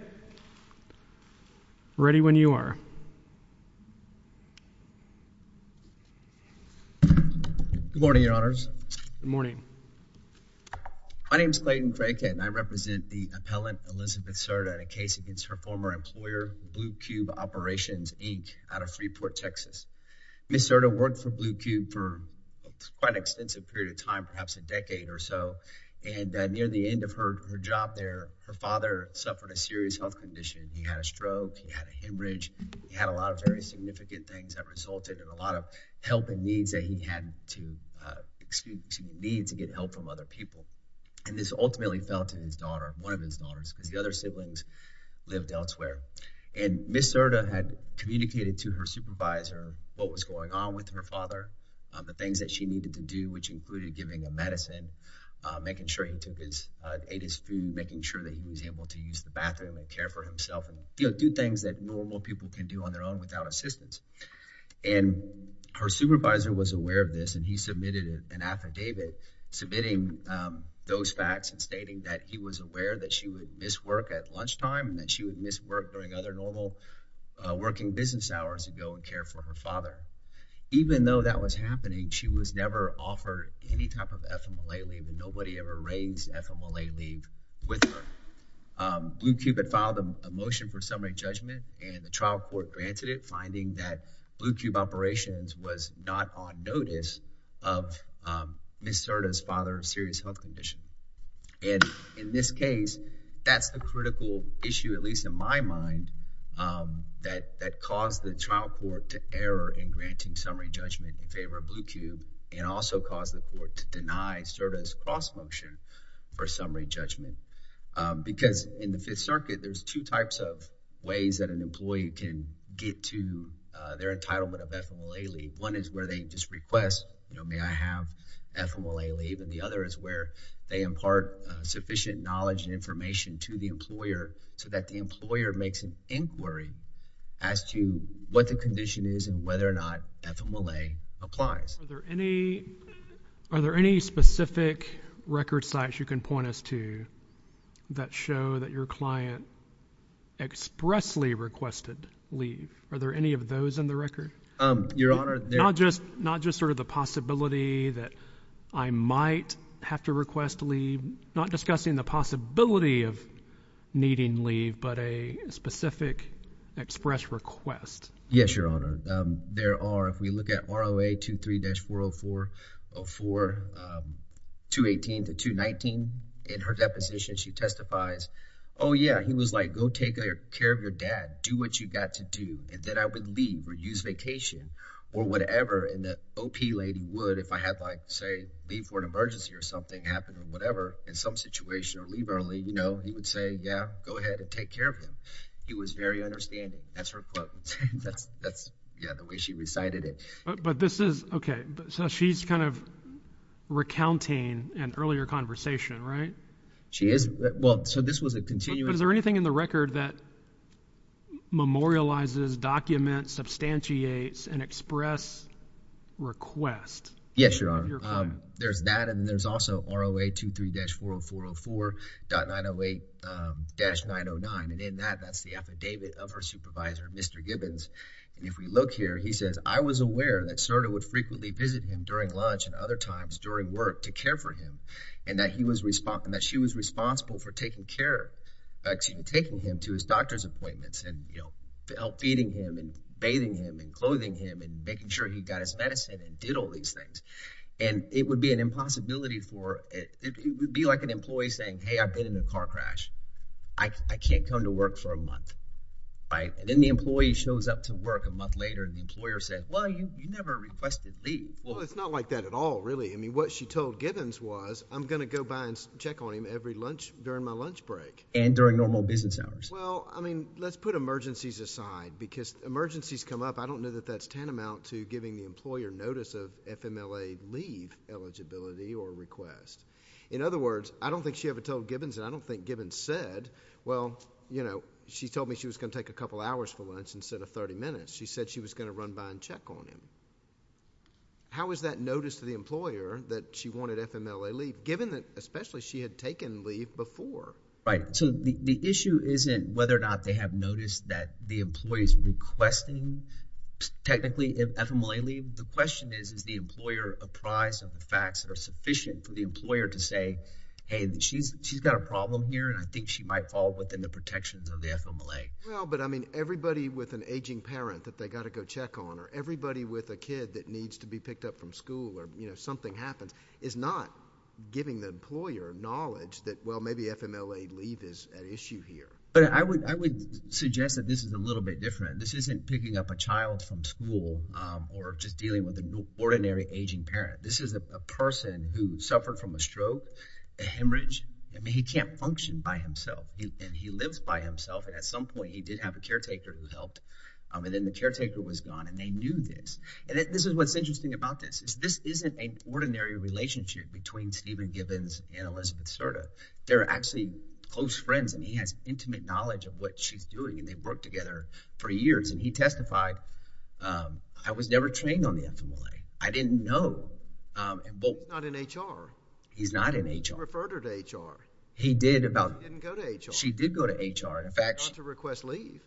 Good morning, your honors. Good morning. My name is Clayton Kraken. I represent the appellant Elizabeth Cerda in a case against her former employer, Blue Cube Operations, Inc., out of Freeport, Texas. Ms. Cerda worked for Blue Cube for quite an extensive period of time, perhaps a decade or so, and near the end of her job there, her father suffered a serious health condition. He had a stroke. He had a hemorrhage. He had a lot of very significant things that resulted in a lot of help and needs that he had to, excuse me, needs to get help from other people. And this ultimately fell to his daughter, one of his daughters, because the other siblings lived elsewhere. And Ms. Cerda had communicated to her supervisor what was going on with her father, the things that she needed to do, which included giving him medicine, making sure he took his, ate his food, making sure that he was able to use the bathroom and care for himself and, you know, do things that normal people can do on their own without assistance. And her supervisor was aware of this, and he submitted an affidavit submitting those facts and stating that he was aware that she would miss work at lunchtime and that she would miss work during other normal working business hours to go and care for her father. Even though that was happening, she was never offered any type of FMLA leave, and nobody ever raised FMLA leave with her. Blue Cube had filed a motion for summary judgment, and the trial court granted it, finding that Blue Cube Operations was not on notice of Ms. Cerda's father's serious health condition. And in this case, that's the critical issue, at least in my mind, that caused the trial court to error in granting summary judgment in favor of Blue Cube and also caused the court to deny Cerda's cross-motion for summary judgment. Because in the Fifth Circuit, there's two types of ways that an employee can get to their entitlement of FMLA leave. One is where they just request, you know, may I have FMLA leave, and the other is where they impart sufficient knowledge and information to the employer so that the employer makes an inquiry as to what the condition is and whether or not FMLA applies. Are there any specific record sites you can point us to that show that your client expressly requested leave? Are there any of those in the record? Your Honor, they're— Not just sort of the possibility that I might have to request leave, not discussing the possibility of needing leave, but a specific express request? Yes, Your Honor. There are, if we look at ROA 23-404-218 to 219, in her deposition, she testifies, oh yeah, he was like, go take care of your dad, do what you got to do, and then I would leave or use vacation or whatever. And the OP lady would, if I had like, say, leave for an emergency or something happened or whatever, in some situation or leave early, you know, he would say, yeah, go ahead and take care of him. He was very understanding. That's her quote. That's, yeah, the way she recited it. But this is, okay, so she's kind of recounting an earlier conversation, right? She is. Well, so this was a continuing— But is there anything in the record that memorializes, documents, substantiates an express request? Yes, Your Honor. There's that and there's also ROA 23-404-404.908-909. And in that, that's the affidavit of her supervisor, Mr. Gibbons. And if we look here, he says, I was aware that Serta would frequently visit him during lunch and other times during work to care for him and that he was responsible, that she was responsible for taking care, taking him to his doctor's appointments and, you know, feeding him and bathing him and clothing him and making sure he got his medicine and did all these things. And it would be an impossibility for—it would be like an employee saying, hey, I've been in a car crash. I can't come to work for a month, right? And then the employee shows up to work a month later and the employer says, well, you never requested leave. Well, it's not like that at all, really. I mean, what she told Gibbons was, I'm going to go by and check on him every lunch during my lunch break. And during normal business hours. Well, I mean, let's put emergencies aside because emergencies come up. I don't know that that's tantamount to giving the employer notice of FMLA leave eligibility or request. In other words, I don't think she ever told Gibbons and I don't think Gibbons said, well, you know, she told me she was going to take a couple hours for lunch instead of 30 minutes. She said she was going to run by and check on him. How is that notice to the employer that she wanted FMLA leave given that especially she had taken leave before? Right. So, the issue isn't whether or not they have noticed that the employee is requesting technically FMLA leave. The question is, is the employer apprised of the facts that are problem here? And I think she might fall within the protections of the FMLA. Well, but I mean, everybody with an aging parent that they got to go check on or everybody with a kid that needs to be picked up from school or, you know, something happens is not giving the employer knowledge that, well, maybe FMLA leave is an issue here. But I would suggest that this is a little bit different. This isn't picking up a child from school or just dealing with an ordinary aging parent. This is a person who suffered from a function by himself. And he lives by himself. And at some point, he did have a caretaker who helped. And then the caretaker was gone. And they knew this. And this is what's interesting about this, is this isn't a ordinary relationship between Steven Gibbons and Elizabeth Serta. They're actually close friends. And he has intimate knowledge of what she's doing. And they've worked together for years. And he testified, I was never trained on the FMLA. I didn't know. Well, not in HR. He's not in HR. Referred her to HR. He did about- Didn't go to HR. She did go to HR. In fact- She's not to request leave.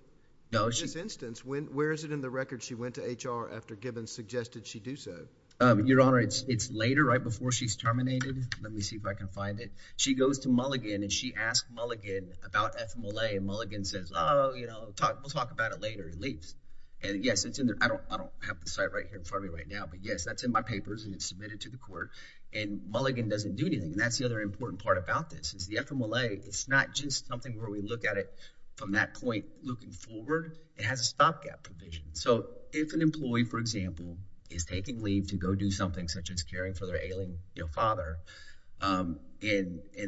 No, she- In this instance, where is it in the record she went to HR after Gibbons suggested she do so? Your Honor, it's later, right before she's terminated. Let me see if I can find it. She goes to Mulligan and she asked Mulligan about FMLA. And Mulligan says, oh, you know, we'll talk about it later. He leaves. And yes, it's in there. I don't have the site right here in front of me right now. But yes, that's in my papers and it's submitted to the court. And Mulligan doesn't do anything. And that's the other important part about this is the FMLA. It's not just something where we look at it from that point looking forward. It has a stopgap provision. So if an employee, for example, is taking leave to go do something such as caring for their ailing father and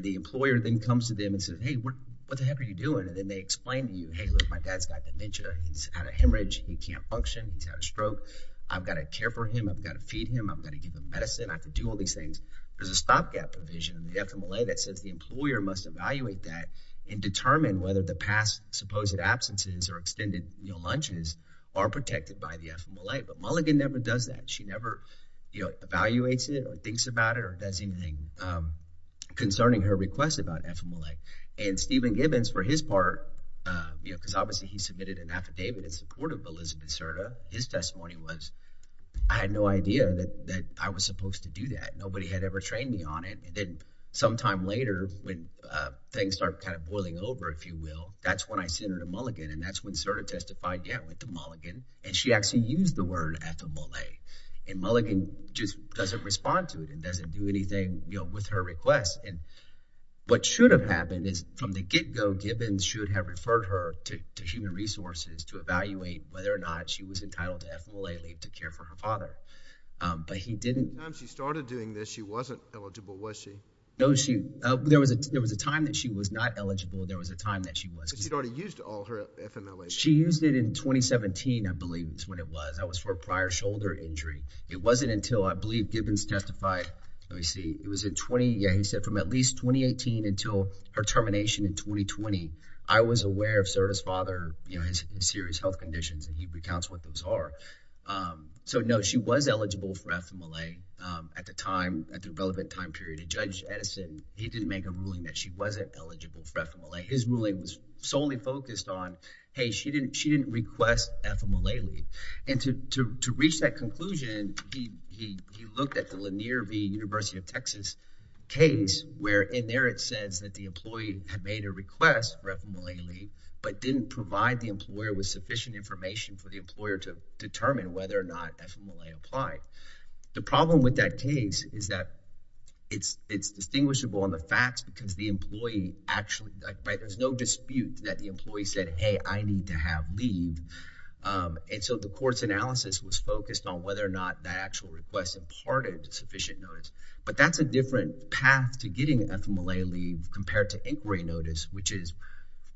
the employer then comes to them and says, hey, what the heck are you doing? And then they explain to you, hey, look, my dad's got dementia. He's had a hemorrhage. He can't function. He's had a stroke. I've got to care for him. I've got to feed him. I've got to give him medicine. I have to do all these things. There's a stopgap provision in the FMLA that says the employer must evaluate that and determine whether the past supposed absences or extended lunches are protected by the FMLA. But Mulligan never does that. She never, you know, evaluates it or thinks about it or does anything concerning her request about FMLA. And Stephen Gibbons, for his part, because obviously he submitted an affidavit in support of Elizabeth Cerda, his testimony was, I had no idea that I was supposed to do that. Nobody had ever trained me on it. And then sometime later when things start kind of boiling over, if you will, that's when I sent her to Mulligan and that's when Cerda testified, yeah, with the Mulligan. And she actually used the word FMLA. And Mulligan just doesn't respond to it and doesn't do anything, you know, with her requests. And what should have happened is from the get go, Gibbons should have referred her to human resources to evaluate whether or not she was entitled to FMLA leave to care for her father. But he didn't. The time she started doing this, she wasn't eligible, was she? No, there was a time that she was not eligible. There was a time that she wasn't. But she'd already used all her FMLA. She used it in 2017, I believe is when it was. That was for a prior shoulder injury. It wasn't until, I believe Gibbons testified, let me see, it was in 20, yeah, he said from at least 2018 until her termination in 2020, I was aware of Cerda's father, you know, his serious health conditions and he recounts what those are. So, no, she was eligible for FMLA at the time, at the relevant time period. And Judge Edison, he didn't make a ruling that she wasn't eligible for FMLA. His ruling was solely focused on, hey, she didn't request FMLA leave. And to reach that conclusion, he looked at the Lanier v. University of Texas case where in there it says that the employee had made a request for FMLA leave, but didn't provide the employer with sufficient information for the employer to determine whether or not FMLA applied. The problem with that case is that it's distinguishable on the facts because the employee actually, right, there's no dispute that the employee said, hey, I need to have leave. And so, the court's analysis was focused on whether or not that actual request imparted sufficient notice. But that's a different path to getting FMLA leave compared to inquiry notice, which is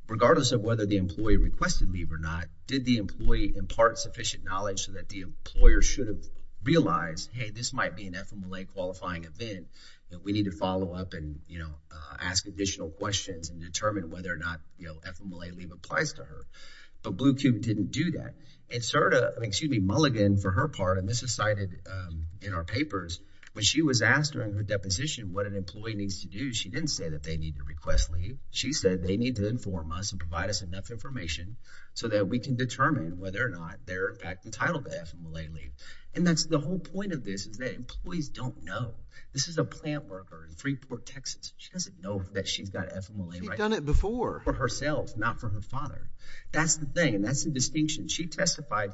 regardless of whether the employee requested leave or not, did the employee impart sufficient knowledge so that the employer should have realized, hey, this might be an FMLA qualifying event that we need to follow up and, you know, ask additional questions and determine whether or not, you know, FMLA leave applies to her. But Blue Cube didn't do that. And Cerda, excuse me, Mulligan, for her part, and this is cited in our papers, when she was asked during her deposition what an employee needs to do, she didn't say that they need to request leave. She said they need to inform us and provide us enough information so that we can determine whether or not they're entitled to FMLA leave. And that's the whole point of this is that employees don't know. This is a plant worker in Freeport, Texas. She doesn't know that she's got FMLA right now. She's done it before. For herself, not for her father. That's the thing. That's the distinction. She testified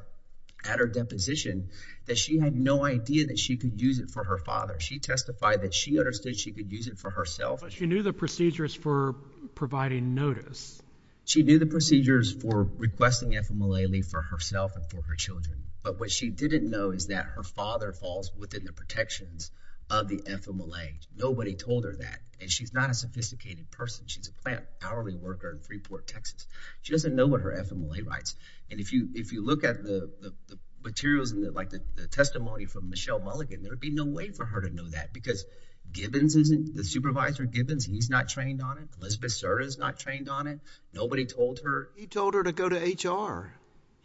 at her deposition that she had no idea that she could use it for her father. She testified that she understood she could use it for herself. But she knew the procedures for providing notice. She knew the procedures for requesting FMLA leave for herself and for her children. But what she didn't know is that her father falls within the protections of the FMLA. Nobody told her that. And she's not a sophisticated person. She's a plant worker. She doesn't know what her FMLA rights. And if you look at the materials and the testimony from Michelle Mulligan, there'd be no way for her to know that because Gibbons isn't, the supervisor of Gibbons, he's not trained on it. Elizabeth Serra is not trained on it. Nobody told her. He told her to go to HR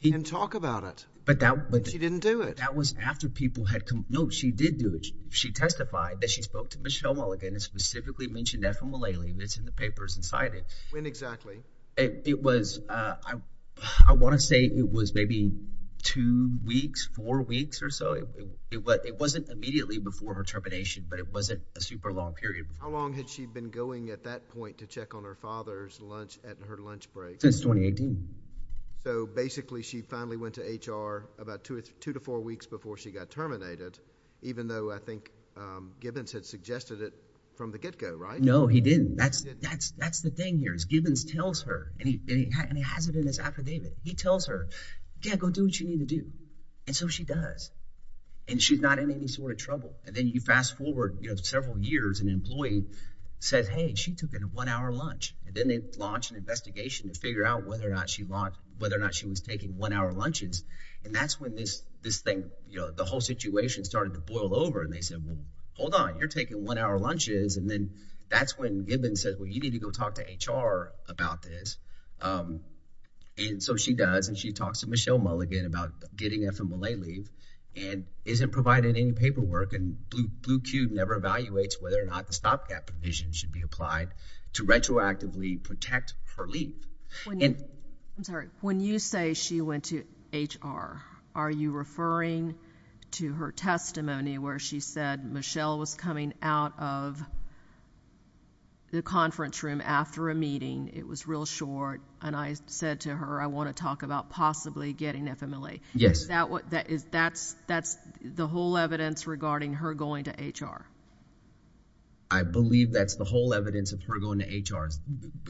and talk about it. But that was. She didn't do it. That was after people had come. No, she did do it. She testified that she spoke to Michelle Mulligan and specifically mentioned FMLA leave. It's in the papers inside it. When exactly? It was, I want to say it was maybe two weeks, four weeks or so. It wasn't immediately before her termination, but it wasn't a super long period. How long had she been going at that point to check on her father's lunch at her lunch break? Since 2018. So basically, she finally went to HR about two to four weeks before she got terminated, even though I think Gibbons had suggested it from the get go, right? No, he didn't. That's the thing here is Gibbons tells her and he has it in his affidavit. He tells her, yeah, go do what you need to do. And so she does. And she's not in any sort of trouble. And then you fast forward several years, an employee says, hey, she took a one hour lunch. And then they launch an investigation to figure out whether or not she was taking one hour lunches. And that's when this thing, the whole situation started to boil over. They said, well, hold on. You're taking one hour lunches. And then that's when Gibbons said, well, you need to go talk to HR about this. And so she does. And she talks to Michelle Mulligan about getting FMLA leave and isn't providing any paperwork. And Blue Cube never evaluates whether or not the stopgap provision should be applied to retroactively protect her leave. I'm sorry. When you say she went to HR, are you referring to her testimony where she said Michelle was coming out of the conference room after a meeting? It was real short. And I said to her, I want to talk about possibly getting FMLA. Yes. Is that what that is? That's the whole evidence regarding her going to HR. I believe that's the whole evidence of her going to HR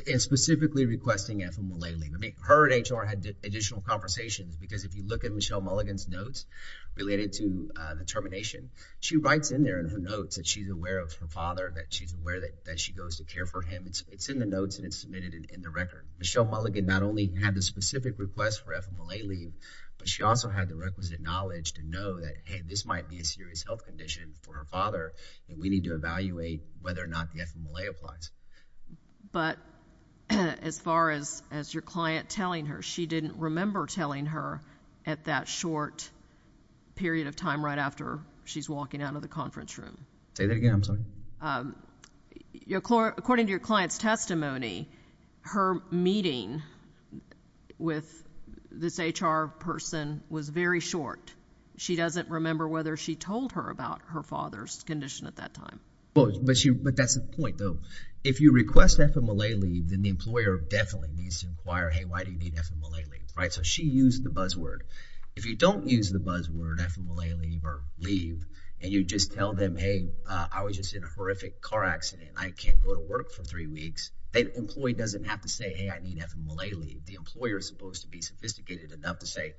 and specifically requesting FMLA leave. I mean, her and HR had additional conversations. Because if you look at Michelle Mulligan's notes related to the termination, she writes in there in her notes that she's aware of her father, that she's aware that she goes to care for him. It's in the notes and it's submitted in the record. Michelle Mulligan not only had the specific request for FMLA leave, but she also had the requisite knowledge to know that, hey, this might be a serious health condition for her father. And we need to evaluate whether or not the FMLA applies. But as far as your client telling her, she didn't remember telling her at that short period of time right after she's walking out of the conference room. Say that again, I'm sorry. According to your client's testimony, her meeting with this HR person was very short. She doesn't remember whether she told her about her father's condition at that time. But that's the point, though. If you request FMLA leave, then the employer definitely needs to inquire, hey, why do you need FMLA leave, right? So she used the buzzword. If you don't use the buzzword FMLA leave or leave and you just tell them, hey, I was just in a horrific car accident and I can't go to work for three weeks, that employee doesn't have to say, hey, I need FMLA leave. The employer is supposed to be sophisticated enough to say,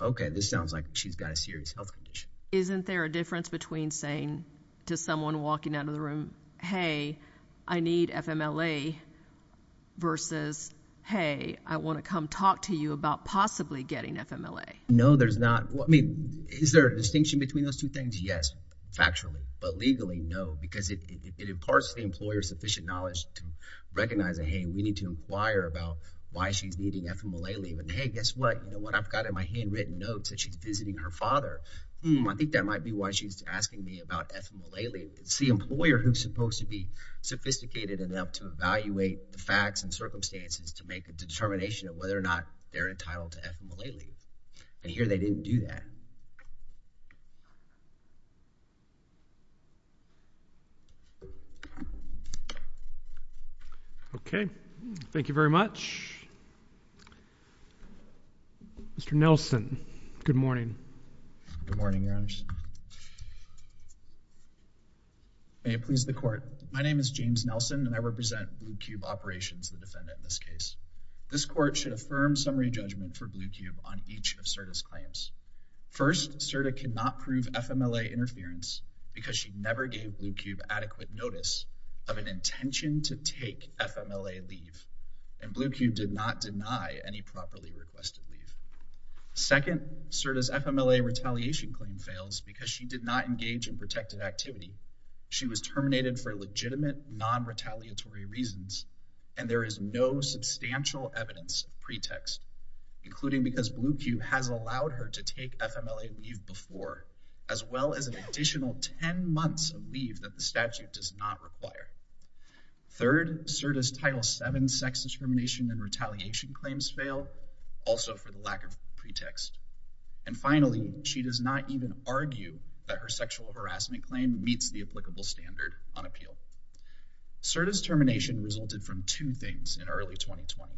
OK, this sounds like she's got a serious health condition. Isn't there a difference between saying to someone walking out of the room, hey, I need FMLA versus, hey, I want to come talk to you about possibly getting FMLA? No, there's not. Is there a distinction between those two things? Yes, factually. But legally, no, because it imparts the employer sufficient knowledge to recognize that, hey, we need to inquire about why she's needing FMLA leave. And hey, guess what? What I've got in my handwritten notes that she's visiting her father. I think that might be why she's asking me about FMLA leave. It's the employer who's supposed to be sophisticated enough to evaluate the facts and circumstances to make a determination of whether or not they're entitled to FMLA leave. And here they didn't do that. OK, thank you very much. Mr. Nelson, good morning. Good morning, Your Honor. May it please the court. My name is James Nelson, and I represent Blue Cube Operations, the defendant in this case. This court should affirm summary judgment for Blue Cube on each of SIRTA's claims. First, SIRTA cannot prove FMLA interference because she never gave Blue Cube adequate notice of an intention to take FMLA leave. And Blue Cube did not deny any properly requested leave. Second, SIRTA's FMLA retaliation claim fails because she did not engage in protective activity. She was terminated for legitimate, non-retaliatory reasons. And there is no substantial evidence pretext, including because Blue Cube has allowed her to take FMLA leave before, as well as an additional 10 months of leave that the statute does not require. Third, SIRTA's Title VII sex discrimination and retaliation claims fail, also for the lack of pretext. And finally, she does not even argue that her sexual harassment claim meets the applicable standard on appeal. SIRTA's termination resulted from two things in early 2020.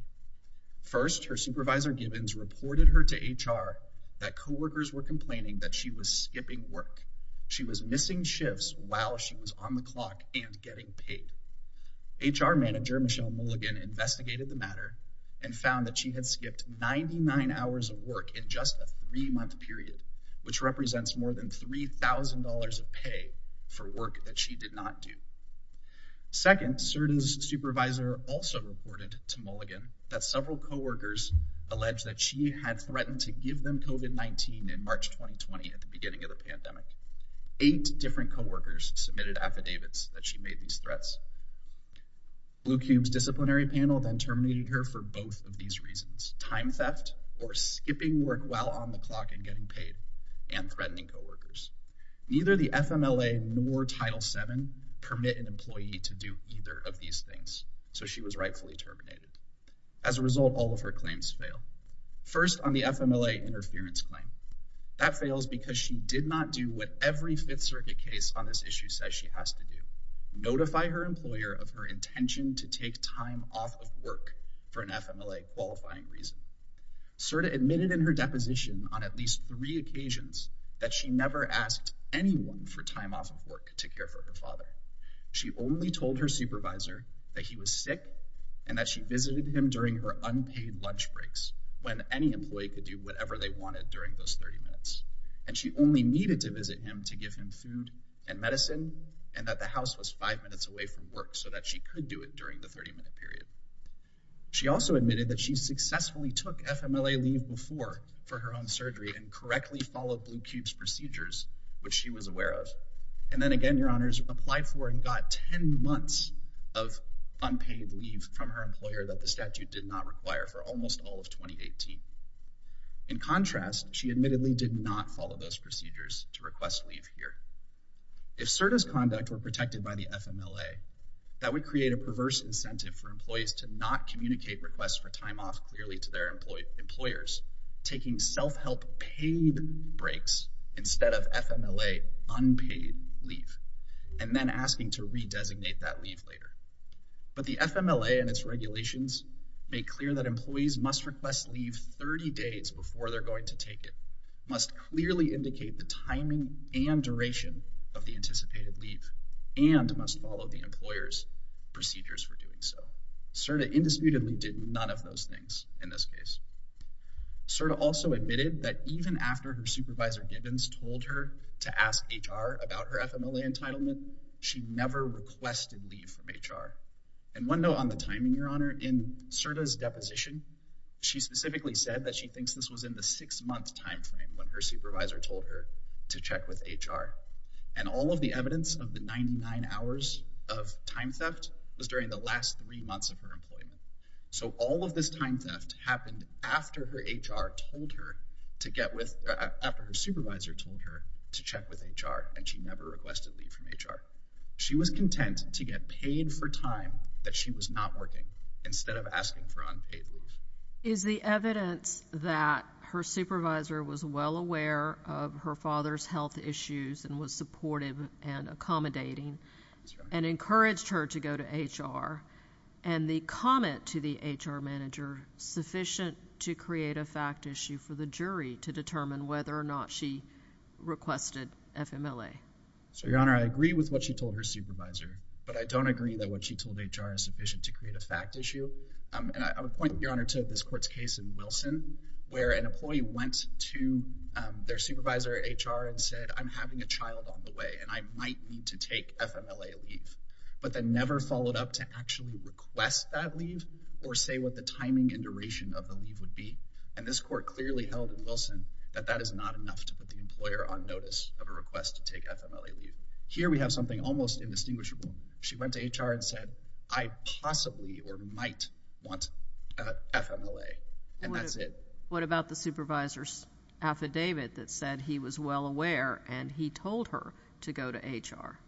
First, her supervisor Gibbons reported her to HR that co-workers were complaining that she was skipping work. She was missing shifts while she was on the clock and getting paid. HR manager Michelle Mulligan investigated the matter and found that she had skipped 99 hours of work in just a three-month period, which represents more than $3,000 of pay for work that she did not do. Second, SIRTA's supervisor also reported to Mulligan that several co-workers alleged that she had threatened to give them COVID-19 in March 2020 at the beginning of the pandemic. Eight different co-workers submitted affidavits that she made these threats. Blue Cube's disciplinary panel then terminated her for both of these reasons, time theft or skipping work while on the clock and getting paid, and threatening co-workers. Neither the FMLA nor Title VII permit an employee to do either of these things, so she was rightfully terminated. As a result, all of her claims fail. First, on the FMLA interference claim, that fails because she did not do what every Fifth Circuit case on this issue says she has to do. Notify her employer of her intention to take time off of work for an FMLA qualifying reason. SIRTA admitted in her deposition on at least three occasions that she never asked anyone for time off of work to care for her father. She only told her supervisor that he was sick and that she visited him during her unpaid lunch breaks, when any employee could do whatever they wanted during those 30 minutes. And she only needed to visit him to give him food and medicine, and that the house was five minutes away from work so that she could do it during the 30-minute period. She also admitted that she successfully took FMLA leave before for her own surgery and correctly followed Blue Cube's procedures, which she was aware of. And then again, Your Honors, applied for and got 10 months of unpaid leave from her employer that the statute did not require for almost all of 2018. In contrast, she admittedly did not follow those procedures to request leave here. If SIRTA's conduct were protected by the FMLA, that would create a perverse incentive for employees to not communicate requests for time off clearly to their employers, taking self-help paid breaks instead of FMLA unpaid leave, and then asking to redesignate that leave later. But the FMLA and its regulations make clear that employees must request leave 30 days before they're going to take it, must clearly indicate the timing and duration of the anticipated leave, and must follow the employer's procedures for doing so. SIRTA indisputably did none of those things in this case. SIRTA also admitted that even after her supervisor Gibbons told her to ask HR about her FMLA entitlement, she never requested leave from HR. And one note on the timing, Your Honor. In SIRTA's deposition, she specifically said that she thinks this was in the six-month timeframe when her supervisor told her to check with HR. And all of the evidence of the 99 hours of time theft was during the last three months of her employment. So all of this time theft happened after her HR told her to get with—after her supervisor told her to check with HR, and she never requested leave from HR. She was content to get paid for time that she was not working, instead of asking for unpaid leave. Is the evidence that her supervisor was well aware of her father's health issues and was supportive and accommodating, and encouraged her to go to HR, and the comment to the HR manager sufficient to create a fact issue for the jury to determine whether or not she requested FMLA? So, Your Honor, I agree with what she told her supervisor, but I don't agree that what she told HR is sufficient to create a fact issue. And I would point, Your Honor, to this court's case in Wilson, where an employee went to their supervisor, HR, and said, I'm having a child on the way, and I might need to take FMLA leave, but then never followed up to actually request that leave or say what the timing and duration of the leave would be. And this court clearly held in Wilson that that is not enough to put the employer on notice of a request to take FMLA leave. Here, we have something almost indistinguishable. She went to HR and said, I possibly or might want FMLA, and that's it. What about the supervisor's affidavit that said he was well aware, and he told her to go to HR?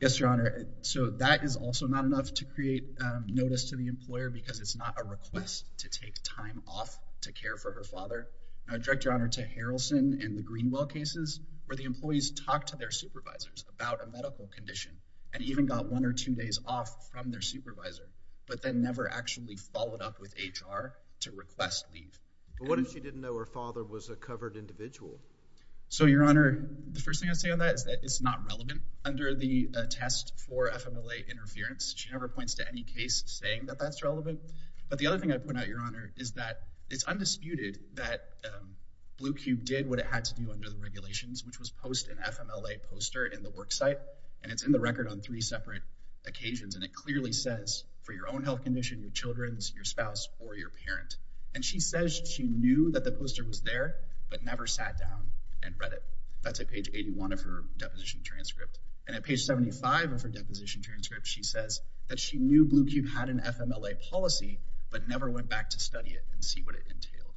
Yes, Your Honor. So, that is also not enough to create notice to the employer because it's not a request to take time off to care for her father. And I direct Your Honor to Harrelson and the Greenwell cases, where the employees talked to their supervisors about a medical condition and even got one or two days off from their supervisor, but then never actually followed up with HR to request leave. But what if she didn't know her father was a covered individual? So, Your Honor, the first thing I'd say on that is that it's not relevant. Under the test for FMLA interference, she never points to any case saying that that's relevant. But the other thing I'd point out, Your Honor, is that it's undisputed that Blue Cube did what it had to do under the regulations, which was post an FMLA poster in the work site, and it's in the record on three separate occasions. And it clearly says, for your own health condition, your children's, your spouse, or your parent. And she says she knew that the poster was there, but never sat down and read it. That's at page 81 of her deposition transcript. And at page 75 of her deposition transcript, she says that she knew Blue Cube had an FMLA policy, but never went back to study it and see what it entailed.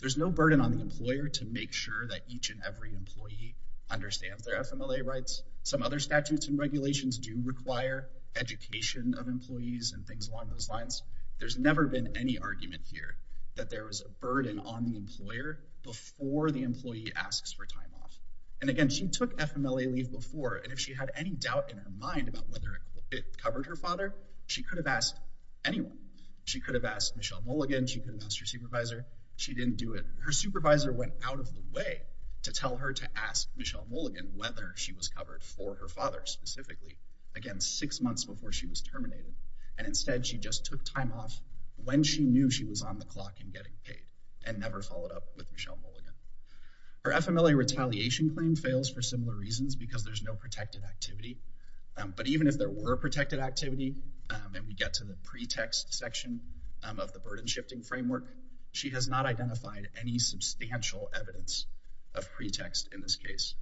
There's no burden on the employer to make sure that each and every employee understands their FMLA rights. Some other statutes and regulations do require education of employees and things along those lines. There's never been any argument here that there was a burden on the employer before the employee asks for time off. And again, she took FMLA leave before, and if she had any doubt in her mind about whether it covered her father, she could have asked anyone. She could have asked Michelle Mulligan. She could have asked her supervisor. She didn't do it. Her supervisor went out of the way to tell her to ask Michelle Mulligan whether she was covered for her father specifically, again, six months before she was terminated. And instead, she just took time off when she knew she was on the clock and getting paid, and never followed up with Michelle Mulligan. Her FMLA retaliation claim fails for similar reasons because there's no protected activity. But even if there were protected activity, and we get to the pretext section of the burden shifting framework, she has not identified any substantial evidence of pretext in this case.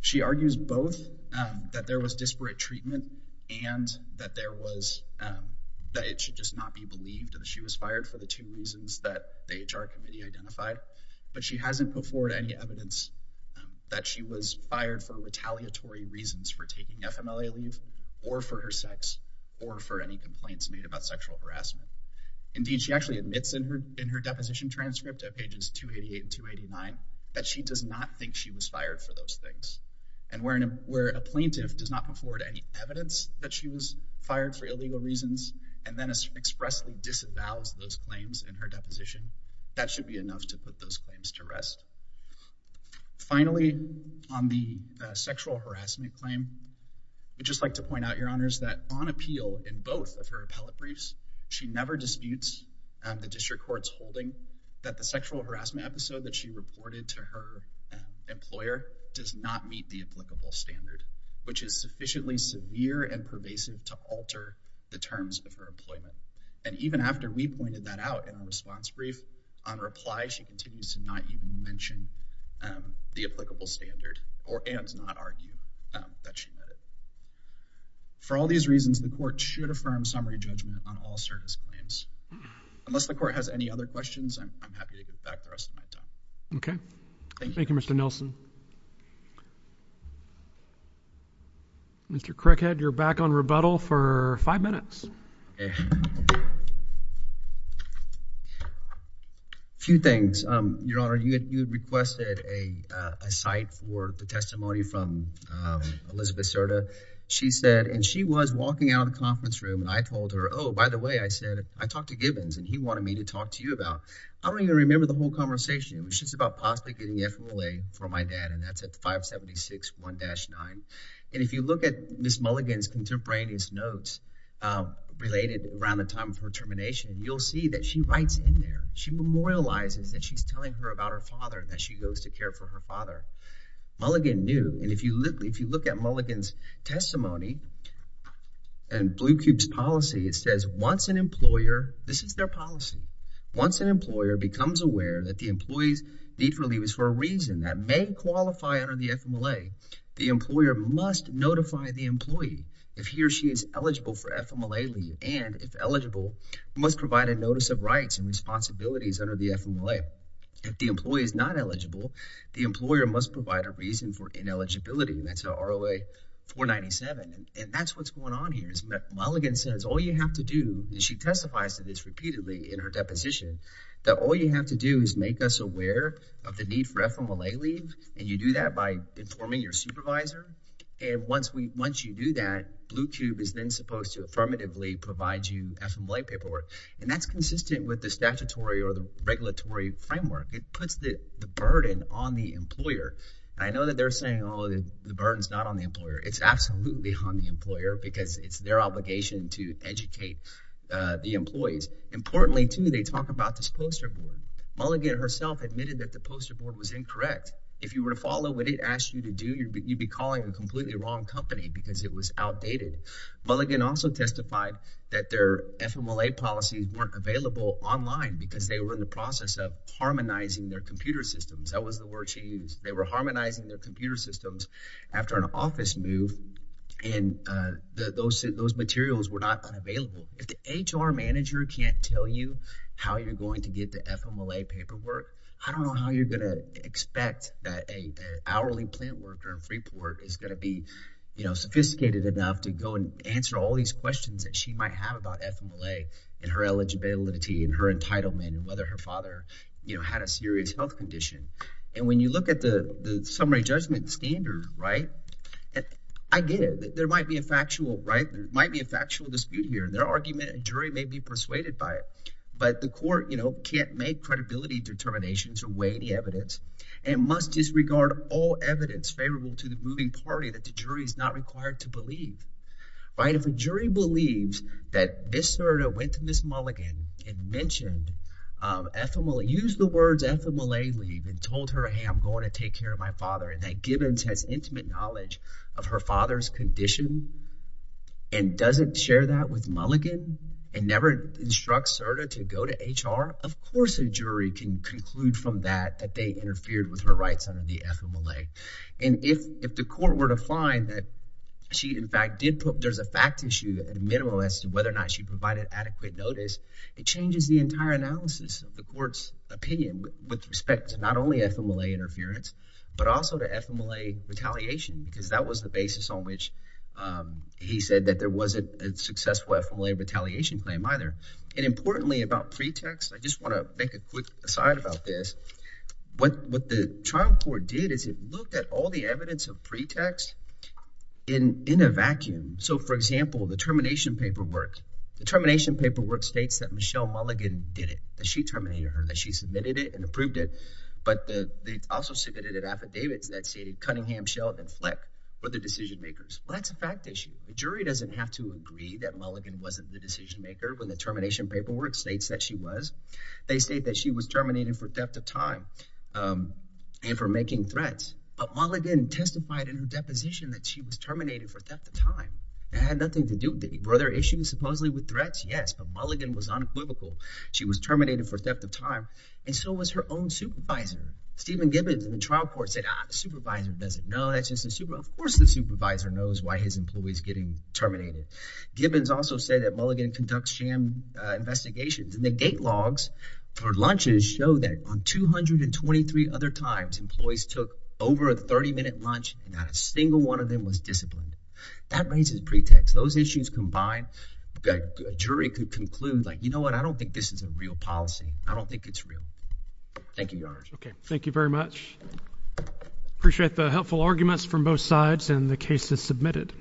She argues both that there was disparate treatment and that it should just not be believed that she was fired for the two reasons that the HR committee identified. But she hasn't put forward any evidence that she was fired for retaliatory reasons for taking FMLA leave, or for her sex, or for any complaints made about sexual harassment. Indeed, she actually admits in her deposition transcript at pages 288 and 289 that she does not think she was fired for those things. And where a plaintiff does not put forward any evidence that she was fired for illegal reasons, and then expressly disavows those claims in her deposition, that should be enough to put those claims to rest. Finally, on the sexual harassment claim, I'd just like to point out, Your Honors, that on appeal in both of her appellate briefs, she never disputes the district court's holding that the sexual harassment episode that she reported to her employer does not meet the terms of her employment. And even after we pointed that out in our response brief, on reply, she continues to not even mention the applicable standard, and to not argue that she met it. For all these reasons, the court should affirm summary judgment on all service claims. Unless the court has any other questions, I'm happy to get back to the rest of my time. Okay, thank you, Mr. Nelson. Mr. Crickhead, you're back on rebuttal for five minutes. Few things, Your Honor. You had requested a cite for the testimony from Elizabeth Serta. She said, and she was walking out of the conference room, and I told her, oh, by the way, I said, I talked to Gibbons, and he wanted me to talk to you about, I don't even remember the whole And that's at 576-1-9, and if you look at Ms. Mulligan's contemporaneous notes related around the time of her termination, you'll see that she writes in there. She memorializes that she's telling her about her father, that she goes to care for her father. Mulligan knew, and if you look at Mulligan's testimony and Blue Cube's policy, it says, once an employer, this is their policy, once an employer becomes aware that the employees need relief is for a reason that may qualify under the FMLA, the employer must notify the employee if he or she is eligible for FMLA leave, and if eligible, must provide a notice of rights and responsibilities under the FMLA. If the employee is not eligible, the employer must provide a reason for ineligibility, and that's in ROA 497, and that's what's going on here is that Mulligan says all you have to do, and she testifies to this repeatedly in her deposition, that all you have to do is make us aware of the need for FMLA leave, and you do that by informing your supervisor, and once you do that, Blue Cube is then supposed to affirmatively provide you FMLA paperwork, and that's consistent with the statutory or the regulatory framework. It puts the burden on the employer, and I know that they're saying, oh, the burden's not on the employer. It's absolutely on the employer because it's their obligation to educate the employees. Importantly, too, they talk about this poster board. Mulligan herself admitted that the poster board was incorrect. If you were to follow what it asked you to do, you'd be calling a completely wrong company because it was outdated. Mulligan also testified that their FMLA policies weren't available online because they were in the process of harmonizing their computer systems. That was the word she used. They were harmonizing their computer systems after an office move, and those materials were not available. If the HR manager can't tell you how you're going to get the FMLA paperwork, I don't know how you're going to expect that an hourly plant worker in Freeport is going to be sophisticated enough to go and answer all these questions that she might have about FMLA and her eligibility and her entitlement and whether her father had a serious health condition, and when you look at the summary judgment standard, I get it. There might be a factual dispute here. Their argument, a jury may be persuaded by it, but the court, you know, can't make credibility determinations or weigh the evidence and must disregard all evidence favorable to the moving party that the jury is not required to believe, right? If a jury believes that Ms. Serta went to Ms. Mulligan and mentioned FMLA, used the words FMLA leave and told her, hey, I'm going to take care of my father and that Gibbons has intimate knowledge of her father's condition and doesn't share that with Mulligan and never instructs Serta to go to HR, of course a jury can conclude from that that they interfered with her rights under the FMLA, and if the court were to find that she in fact did put, there's a fact issue at a minimum as to whether or not she provided adequate notice, it changes the entire analysis of the court's opinion with respect to not only FMLA interference, but also to FMLA retaliation, because that was the basis on which he said that there wasn't a successful FMLA retaliation claim either. And importantly about pretext, I just want to make a quick aside about this. What the trial court did is it looked at all the evidence of pretext in a vacuum. So, for example, the termination paperwork, the termination paperwork states that Michelle Mulligan did it, that she terminated her, that she submitted it and approved it, but they also submitted an affidavit that stated Cunningham, Sheldon, Fleck were the decision makers. Well, that's a fact issue. The jury doesn't have to agree that Mulligan wasn't the decision maker when the termination paperwork states that she was. They state that she was terminated for theft of time and for making threats, but Mulligan testified in her deposition that she was terminated for theft of time. It had nothing to do with it. Were there issues supposedly with threats? Yes, but Mulligan was unequivocal. She was terminated for theft of time and so was her own supervisor, Stephen Gibbons. And the trial court said, ah, the supervisor doesn't know. That's just a super, of course the supervisor knows why his employee's getting terminated. Gibbons also said that Mulligan conducts sham investigations and the date logs for lunches show that on 223 other times, employees took over a 30 minute lunch and not a single one of them was disciplined. That raises a pretext. Those issues combined, a jury could conclude like, I don't think this is a real policy. I don't think it's real. Thank you, Your Honor. Okay. Thank you very much. Appreciate the helpful arguments from both sides and the cases submitted.